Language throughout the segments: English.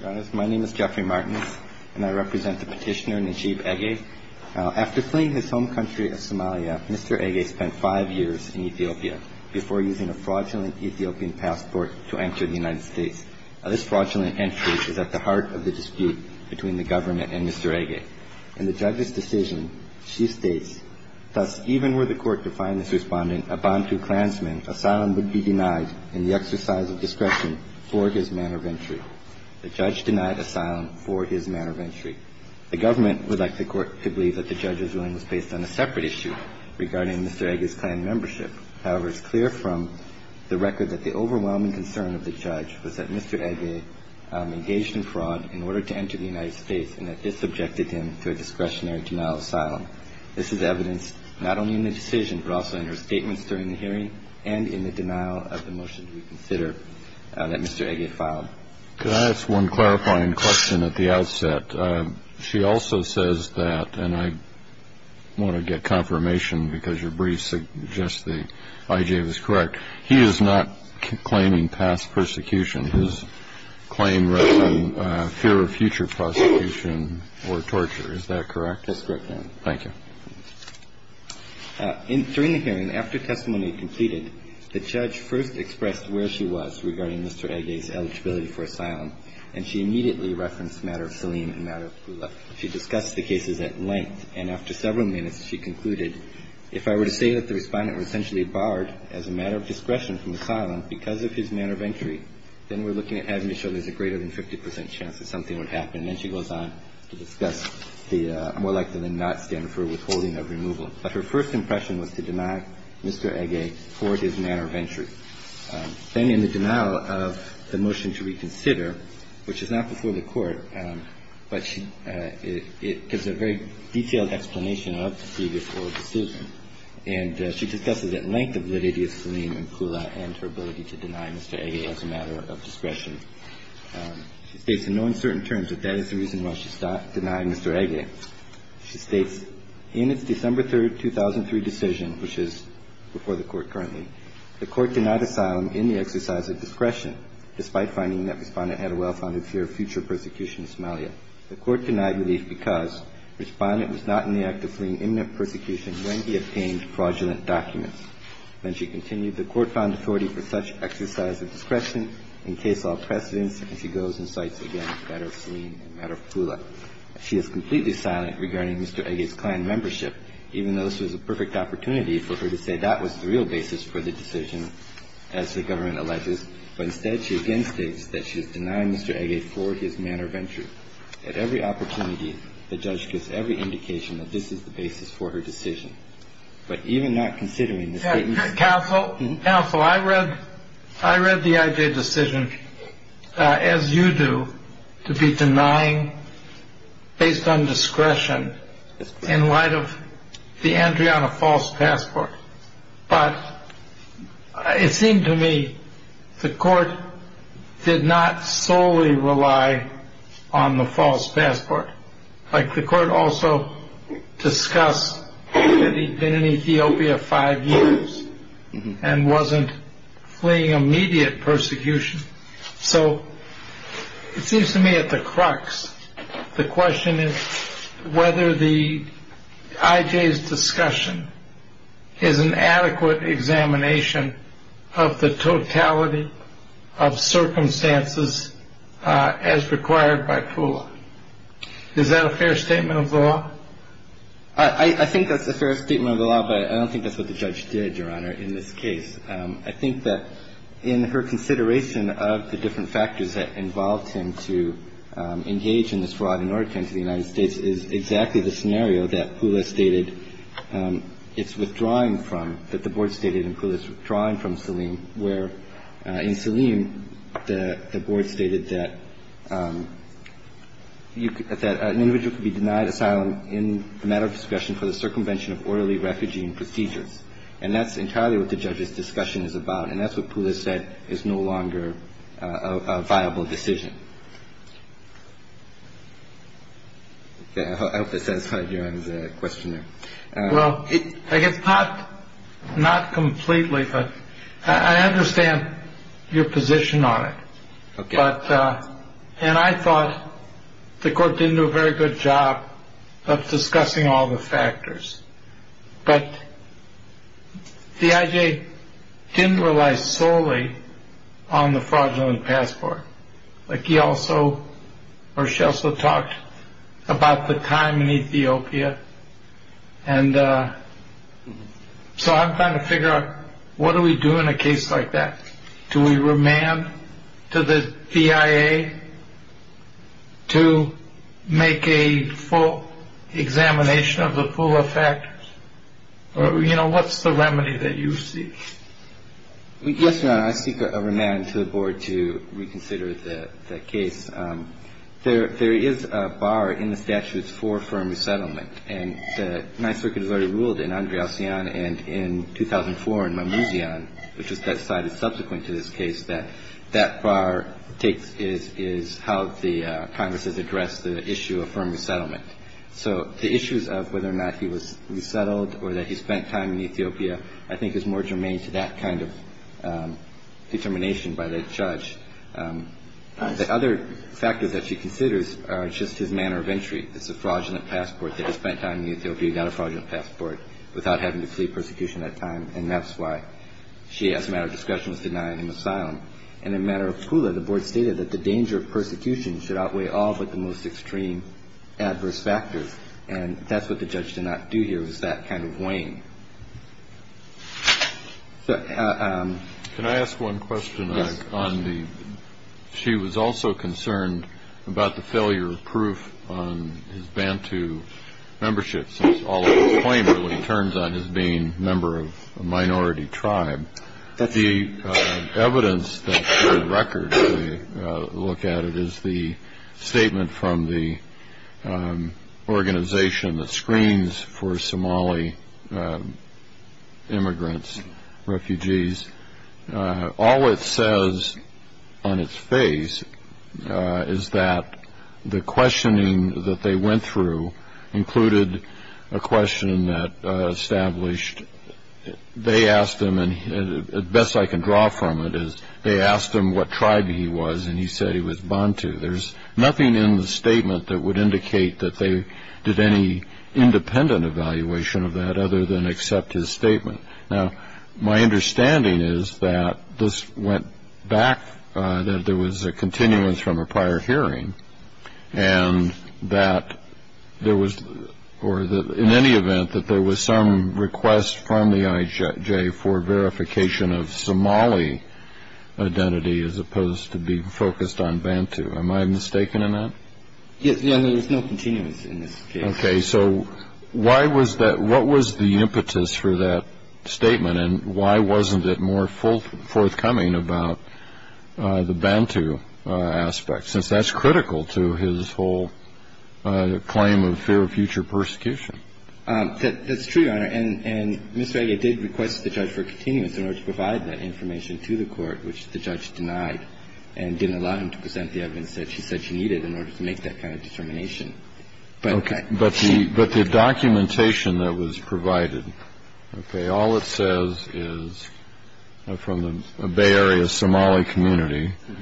Your Honor, my name is Jeffrey Martinez, and I represent the petitioner Najib Egeh. After fleeing his home country of Somalia, Mr. Egeh spent five years in Ethiopia before using a fraudulent Ethiopian passport to enter the United States. This fraudulent entry is at the heart of the dispute between the government and Mr. Egeh. In the judge's decision, she states, Thus, even were the court to find this respondent a Bantu clansman, asylum would be denied in the exercise of discretion for his manner of entry. The judge denied asylum for his manner of entry. The government would like the court to believe that the judge's ruling was based on a separate issue regarding Mr. Egeh's clan membership. However, it's clear from the record that the overwhelming concern of the judge was that Mr. Egeh engaged in fraud in order to enter the United States This is evidenced not only in the decision, but also in her statements during the hearing and in the denial of the motion to reconsider that Mr. Egeh filed. Could I ask one clarifying question at the outset? She also says that, and I want to get confirmation because your brief suggests that Egeh was correct, he is not claiming past persecution. His claim rests on fear of future prosecution or torture. Is that correct? That's correct, Your Honor. Thank you. During the hearing, after testimony completed, the judge first expressed where she was regarding Mr. Egeh's eligibility for asylum, and she immediately referenced the matter of Selim and the matter of Pula. She discussed the cases at length, and after several minutes, she concluded, if I were to say that the respondent was essentially barred as a matter of discretion from asylum because of his manner of entry, then we're looking at having to show there's a greater than 50 percent chance that something would happen. And then she goes on to discuss the more likely than not stand for withholding of removal. But her first impression was to deny Mr. Egeh for his manner of entry. Then in the denial of the motion to reconsider, which is not before the Court, but it gives a very detailed explanation of the previous oral decision, and she discusses at length the validity of Selim and Pula and her ability to deny Mr. Egeh as a matter of discretion. She states in no uncertain terms that that is the reason why she denied Mr. Egeh. She states, In its December 3, 2003 decision, which is before the Court currently, the Court denied asylum in the exercise of discretion, despite finding that Respondent had a well-founded fear of future persecution of Somalia. The Court denied relief because Respondent was not in the act of fleeing imminent persecution when he obtained fraudulent documents. Then she continued, The Court found authority for such exercise of discretion in case law precedence, and she goes and cites again the matter of Selim and the matter of Pula. She is completely silent regarding Mr. Egeh's Klan membership, even though this was a perfect opportunity for her to say that was the real basis for the decision, as the government alleges. But instead, she again states that she is denying Mr. Egeh for his manner of entry. At every opportunity, the judge gives every indication that this is the basis for her decision. But even not considering the statements of Mr. Egeh. Counsel, I read the Egeh decision, as you do, to be denying based on discretion in light of the entry on a false passport. But it seemed to me the Court did not solely rely on the false passport. The Court also discussed that he'd been in Ethiopia five years and wasn't fleeing immediate persecution. So it seems to me at the crux, the question is whether the Egeh's discussion is an answer to the question of whether or not Mr. Egeh has been in Ethiopia five years, and whether or not Mr. Egeh has been in Ethiopia five years. Is that a fair statement of the law? I think that's a fair statement of the law, but I don't think that's what the judge did, Your Honor, in this case. I think that in her consideration of the different factors that involved him to engage in this fraud in order to enter the United States is exactly the scenario that Pula stated it's withdrawing from, that the Board stated in Pula's withdrawing from Saleem, where in Saleem the Board stated that an individual could be denied asylum in the matter of discretion for the circumvention of orderly refugee procedures. And that's entirely what the judge's discussion is about, and that's what Pula said is no longer a viable decision. I hope that satisfies Your Honor's question. Well, I guess not completely, but I understand your position on it. Okay. And I thought the court didn't do a very good job of discussing all the factors, but D.I.J. didn't rely solely on the fraudulent passport. Like he also or she also talked about the time in Ethiopia. And so I'm trying to figure out what do we do in a case like that. Do we remand to the D.I.A. to make a full examination of the Pula factors? Or, you know, what's the remedy that you seek? Yes, Your Honor, I seek a remand to the Board to reconsider the case. There is a bar in the statutes for firm resettlement, and the Ninth Circuit has already ruled in Andre Alcyon and in 2004 in Mamouzian, which was decided subsequent to this case, that that bar is how the Congress has addressed the issue of firm resettlement. So the issues of whether or not he was resettled or that he spent time in Ethiopia, I think is more germane to that kind of determination by the judge. The other factors that she considers are just his manner of entry. It's a fraudulent passport that he spent time in Ethiopia, not a fraudulent passport, without having to plead persecution at that time. And that's why she, as a matter of discretion, was denied an asylum. And in a matter of Pula, the Board stated that the danger of persecution should outweigh all but the most extreme adverse factors. And that's what the judge did not do here, was that kind of weighing. Can I ask one question? Yes. She was also concerned about the failure of proof on his Bantu membership, since all of his claims are what he turns on as being a member of a minority tribe. The evidence that, for the record, when you look at it is the statement from the organization that screens for Somali immigrants, refugees. All it says on its face is that the questioning that they went through included a question that established they asked him, and the best I can draw from it is they asked him what tribe he was, and he said he was Bantu. There's nothing in the statement that would indicate that they did any independent evaluation of that other than accept his statement. Now, my understanding is that this went back, that there was a continuance from a prior hearing, and that there was or that in any event that there was some request from the IJ for verification of Somali identity as opposed to being focused on Bantu. Am I mistaken in that? Yes. There was no continuance in this case. Okay. So why was that, what was the impetus for that statement, and why wasn't it more forthcoming about the Bantu aspect, since that's critical to his whole claim of fear of future persecution? That's true, Your Honor. And Ms. Vega did request the judge for continuance in order to provide that information to the court, which the judge denied and didn't allow him to present the evidence that she said she needed in order to make that kind of determination. Okay. But the documentation that was provided, okay, all it says is from the Bay Area Somali community, it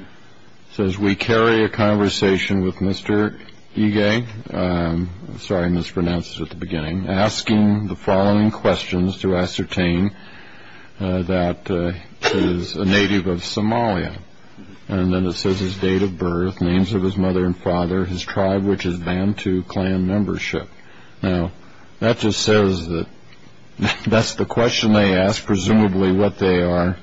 says, We carry a conversation with Mr. Ige, sorry I mispronounced it at the beginning, asking the following questions to ascertain that he is a native of Somalia. And then it says his date of birth, names of his mother and father, his tribe, which is Bantu clan membership. Now, that just says that that's the question they ask, presumably what they are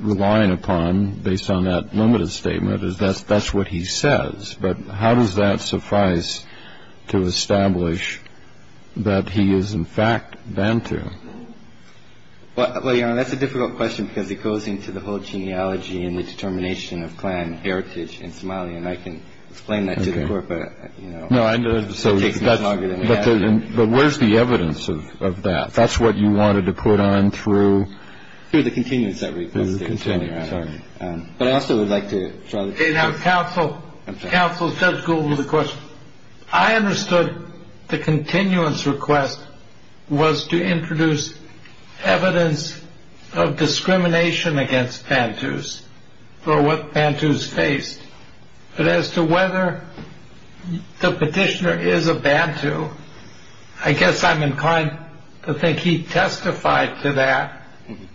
relying upon, based on that limited statement, is that's what he says. But how does that suffice to establish that he is, in fact, Bantu? Well, Your Honor, that's a difficult question, because it goes into the whole genealogy and the determination of clan heritage in Somalia. And I can explain that to the court. But, you know. No, I know. But where's the evidence of that? That's what you wanted to put on through. Through the continuance request. Through the continuance. Sorry. Counsel, Counsel, Judge Gould with a question. Your Honor, I understood the continuance request was to introduce evidence of discrimination against Bantus for what Bantus faced. But as to whether the petitioner is a Bantu, I guess I'm inclined to think he testified to that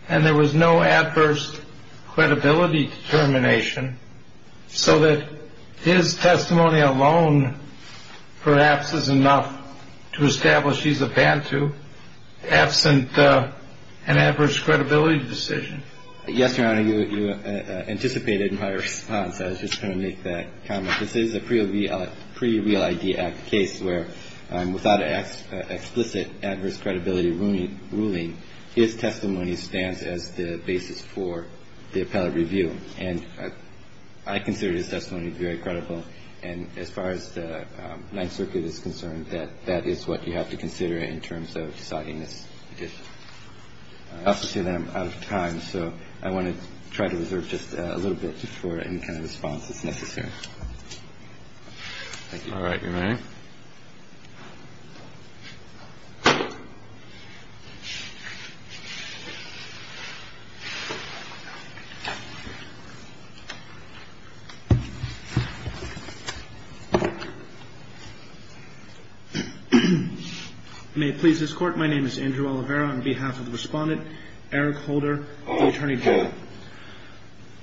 and there was no adverse credibility determination, so that his testimony alone perhaps is enough to establish he's a Bantu, absent an adverse credibility decision. Yes, Your Honor, you anticipated my response. I was just going to make that comment. This is a pre-Real ID Act case where without an explicit adverse credibility ruling, his testimony stands as the basis for the appellate review. And I consider his testimony very credible. And as far as the Ninth Circuit is concerned, that is what you have to consider in terms of deciding this petition. I also see that I'm out of time, so I want to try to reserve just a little bit before any kind of response is necessary. Thank you. All right. You're ready. You may please escort. My name is Andrew Oliveira. On behalf of the Respondent, Eric Holder, the Attorney General.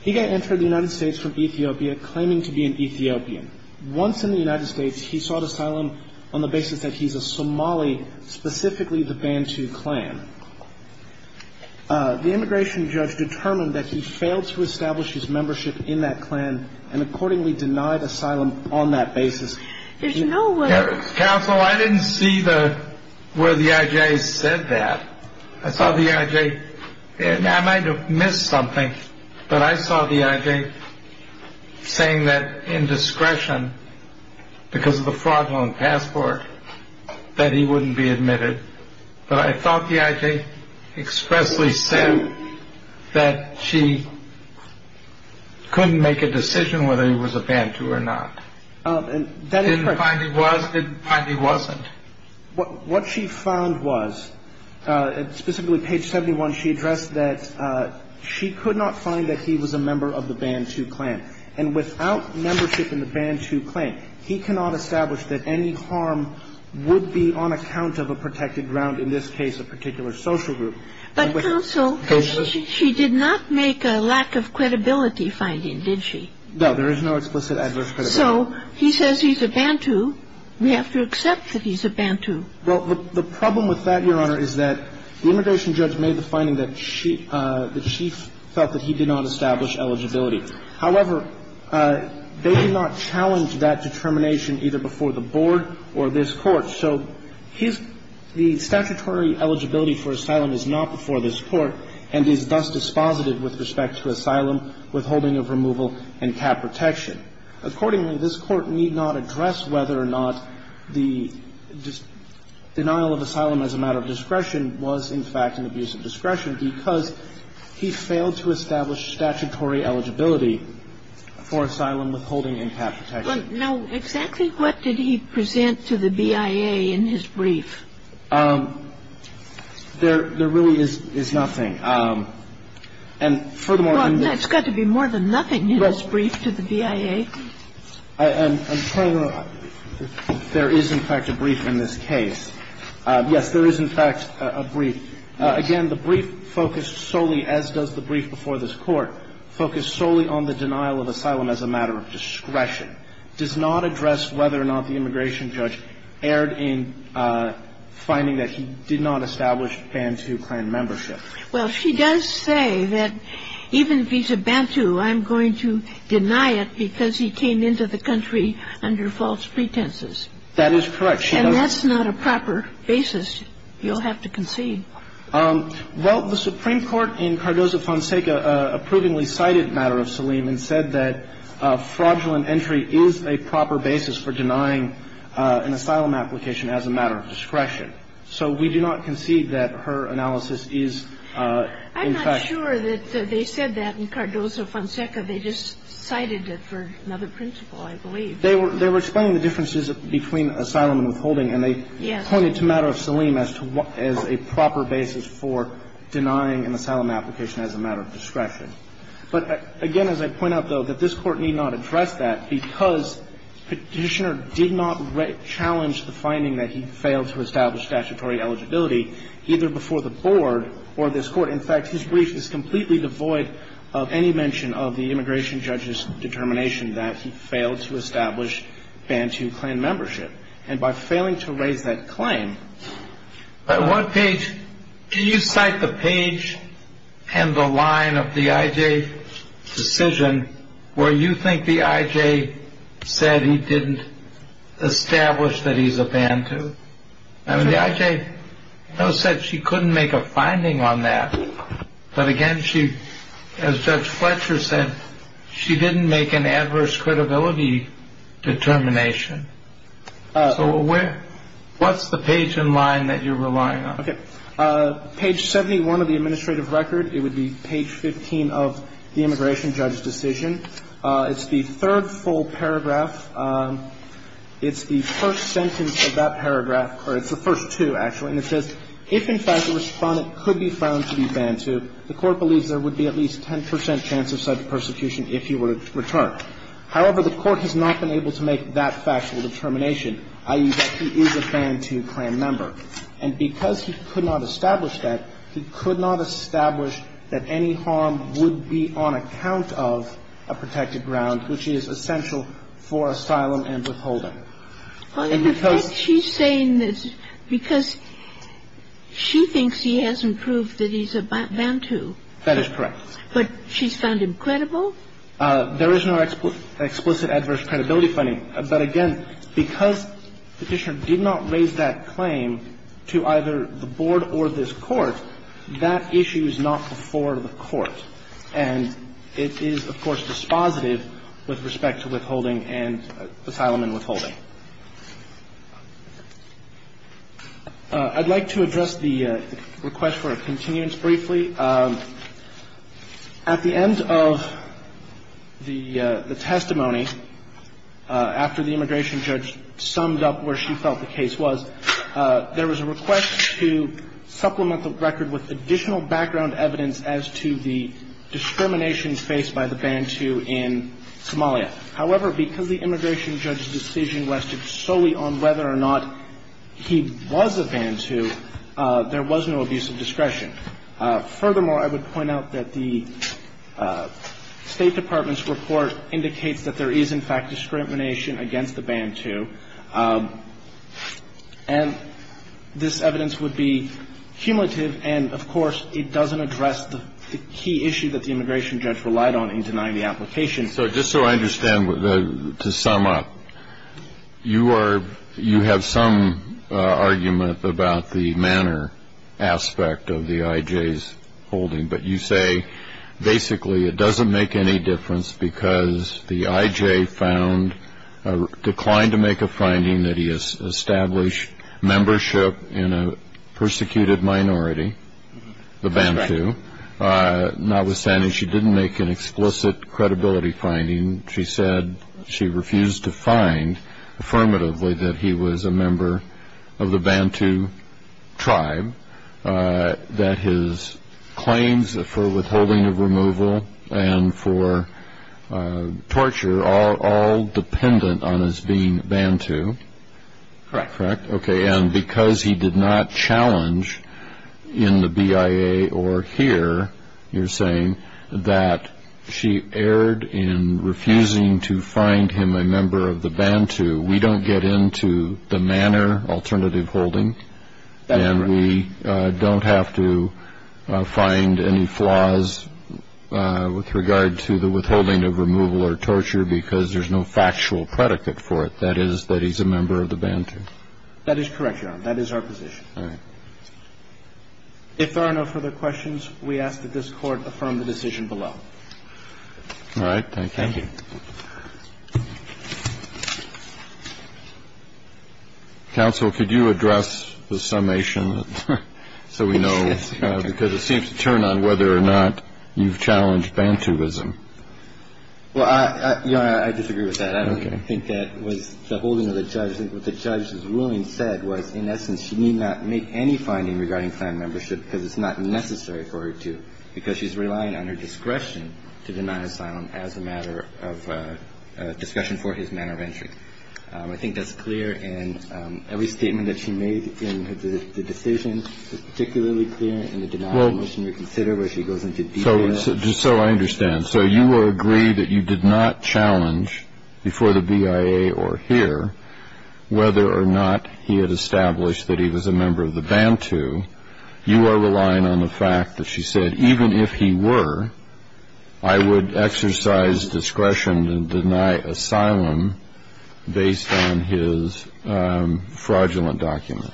He got entered in the United States from Ethiopia, claiming to be an Ethiopian. Once in the United States, he sought asylum on the basis that he's a Somali, specifically the Bantu clan. The immigration judge determined that he failed to establish his membership in that clan and accordingly denied asylum on that basis. There's no way. Counsel, I didn't see the where the I.J. said that. I saw the I.J. and I might have missed something. But I saw the I.J. saying that in discretion because of the fraudulent passport that he wouldn't be admitted. But I thought the I.J. expressly said that she couldn't make a decision whether he was a Bantu or not. Didn't find he was, didn't find he wasn't. What she found was, specifically page 71, she addressed that she could not find that he was a member of the Bantu clan. And without membership in the Bantu clan, he cannot establish that any harm would be on account of a protected ground, in this case, a particular social group. But, Counsel, she did not make a lack of credibility finding, did she? No, there is no explicit adverse credibility. So he says he's a Bantu. We have to accept that he's a Bantu. Well, the problem with that, Your Honor, is that the immigration judge made the finding that she, that she felt that he did not establish eligibility. However, they did not challenge that determination either before the board or this Court. So his, the statutory eligibility for asylum is not before this Court and is thus dispositive with respect to asylum, withholding of removal and cap protection. Accordingly, this Court need not address whether or not the denial of asylum as a matter of discretion was in fact an abuse of discretion because he failed to establish statutory eligibility for asylum withholding and cap protection. Now, exactly what did he present to the BIA in his brief? There really is nothing. And furthermore, in this. Well, there's got to be more than nothing in this brief to the BIA. Well, I'm trying to go. There is in fact a brief in this case. Yes, there is in fact a brief. Again, the brief focused solely, as does the brief before this Court, focused solely on the denial of asylum as a matter of discretion, does not address whether or not the immigration judge erred in finding that he did not establish Bantu clan membership. Well, she does say that even vis-à-vis Bantu, I'm going to deny it because he came into the country under false pretenses. That is correct. She does. And that's not a proper basis. You'll have to concede. Well, the Supreme Court in Cardozo-Fonseca approvingly cited a matter of Saleem and said that fraudulent entry is a proper basis for denying an asylum application as a matter of discretion. So we do not concede that her analysis is in fact. I'm not sure that they said that in Cardozo-Fonseca. They just cited it for another principle, I believe. They were explaining the differences between asylum and withholding. Yes. And they pointed to a matter of Saleem as a proper basis for denying an asylum application as a matter of discretion. But, again, as I point out, though, that this Court need not address that because Petitioner did not challenge the finding that he failed to establish statutory eligibility either before the Board or this Court. In fact, his brief is completely devoid of any mention of the immigration judge's determination that he failed to establish Bantu clan membership. And by failing to raise that claim. What page? Do you cite the page and the line of the IJ decision where you think the IJ said he didn't establish that he's a Bantu? I mean, the IJ said she couldn't make a finding on that. But, again, she, as Judge Fletcher said, she didn't make an adverse credibility determination. So where? What's the page and line that you're relying on? Okay. Page 71 of the administrative record, it would be page 15 of the immigration judge's decision. It's the third full paragraph. It's the first sentence of that paragraph, or it's the first two, actually. And it says, if, in fact, a Respondent could be found to be Bantu, the Court believes there would be at least 10 percent chance of such persecution if he were to return. However, the Court has not been able to make that factual determination, i.e., that he is a Bantu clan member. And because he could not establish that, he could not establish that any harm would be on account of a protected ground, which is essential for asylum and withholding. And because he's saying this because she thinks he hasn't proved that he's a Bantu. That is correct. But she's found him credible? There is no explicit adverse credibility finding. But again, because the Petitioner did not raise that claim to either the Board or this Court, that issue is not before the Court. And it is, of course, dispositive with respect to withholding and asylum and withholding. I'd like to address the request for a continuance briefly. At the end of the testimony, after the immigration judge summed up where she felt the case was, there was a request to supplement the record with additional background evidence as to the discrimination faced by the Bantu in Somalia. However, because the immigration judge's decision rested solely on whether or not he was a Bantu, there was no abuse of discretion. Furthermore, I would point out that the State Department's report indicates that there is, in fact, discrimination against the Bantu. And this evidence would be cumulative, and, of course, it doesn't address the key issue that the immigration judge relied on in denying the application. So just so I understand, to sum up, you are you have some argument about the manner aspect of the I.J.'s holding. But you say basically it doesn't make any difference because the I.J. found declined to make a finding that he established membership in a persecuted minority, the Bantu. Notwithstanding, she didn't make an explicit credibility finding. She said she refused to find affirmatively that he was a member of the Bantu tribe, that his claims for withholding of removal and for torture are all dependent on his being Bantu. Correct. Correct. Okay. And because he did not challenge in the BIA or here, you're saying, that she erred in refusing to find him a member of the Bantu, we don't get into the manner alternative holding, and we don't have to find any flaws with regard to the withholding of removal or torture because there's no factual predicate for it. That is, that he's a member of the Bantu. That is correct, Your Honor. That is our position. All right. If there are no further questions, we ask that this Court affirm the decision below. All right. Thank you. Thank you. Counsel, could you address the summation so we know, because it seems to turn on whether or not you've challenged Bantuism. Well, I disagree with that. Okay. I think that was the holding of the judge. I think what the judge's ruling said was, in essence, she need not make any finding regarding clan membership because it's not necessary for her to, because she's relying on her discretion to deny asylum as a matter of discussion for his manner of entry. I think that's clear. And every statement that she made in the decision is particularly clear in the denial of mission reconsider where she goes into detail. So I understand. And so you will agree that you did not challenge, before the BIA or here, whether or not he had established that he was a member of the Bantu. You are relying on the fact that she said, even if he were, I would exercise discretion to deny asylum based on his fraudulent document.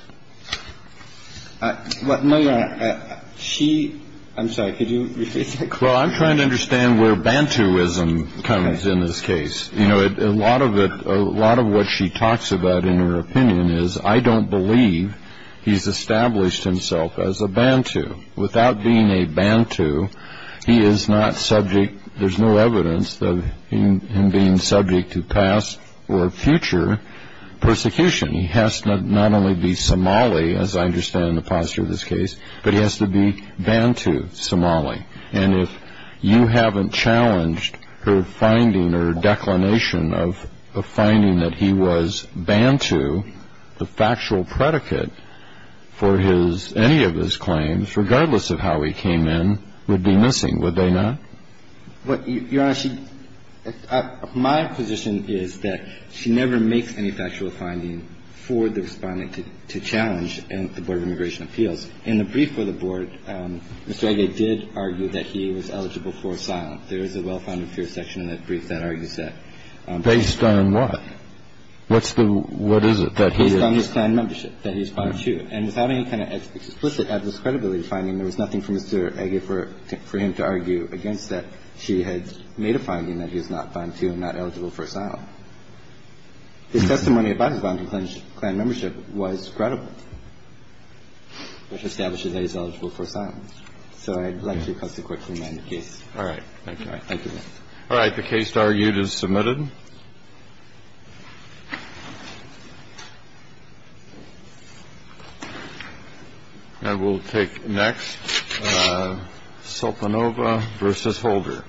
But, my Lord, she, I'm sorry, could you repeat that? Well, I'm trying to understand where Bantuism comes in this case. You know, a lot of what she talks about in her opinion is, I don't believe he's established himself as a Bantu. Without being a Bantu, he is not subject, there's no evidence of him being subject to past or future persecution. He has to not only be Somali, as I understand the posture of this case, but he has to be Bantu Somali. And if you haven't challenged her finding or declination of the finding that he was Bantu, the factual predicate for his, any of his claims, regardless of how he came in, would be missing, would they not? Your Honor, my position is that she never makes any factual finding for the Respondent to challenge the Board of Immigration Appeals. In the brief for the Board, Mr. Age did argue that he was eligible for asylum. There is a well-founded fear section in that brief that argues that. Based on what? What's the, what is it that he is? Based on his clan membership, that he is Bantu. And without any kind of explicit, absolute credibility finding, there was nothing for Mr. Age for him to argue against that she had made a finding that he is not Bantu and not eligible for asylum. His testimony about his Bantu clan membership was credible. So I would like to request a quick reminder case. All right. Thank you. All right. The case argued is submitted. And we'll take next. Sopanova v. Holder.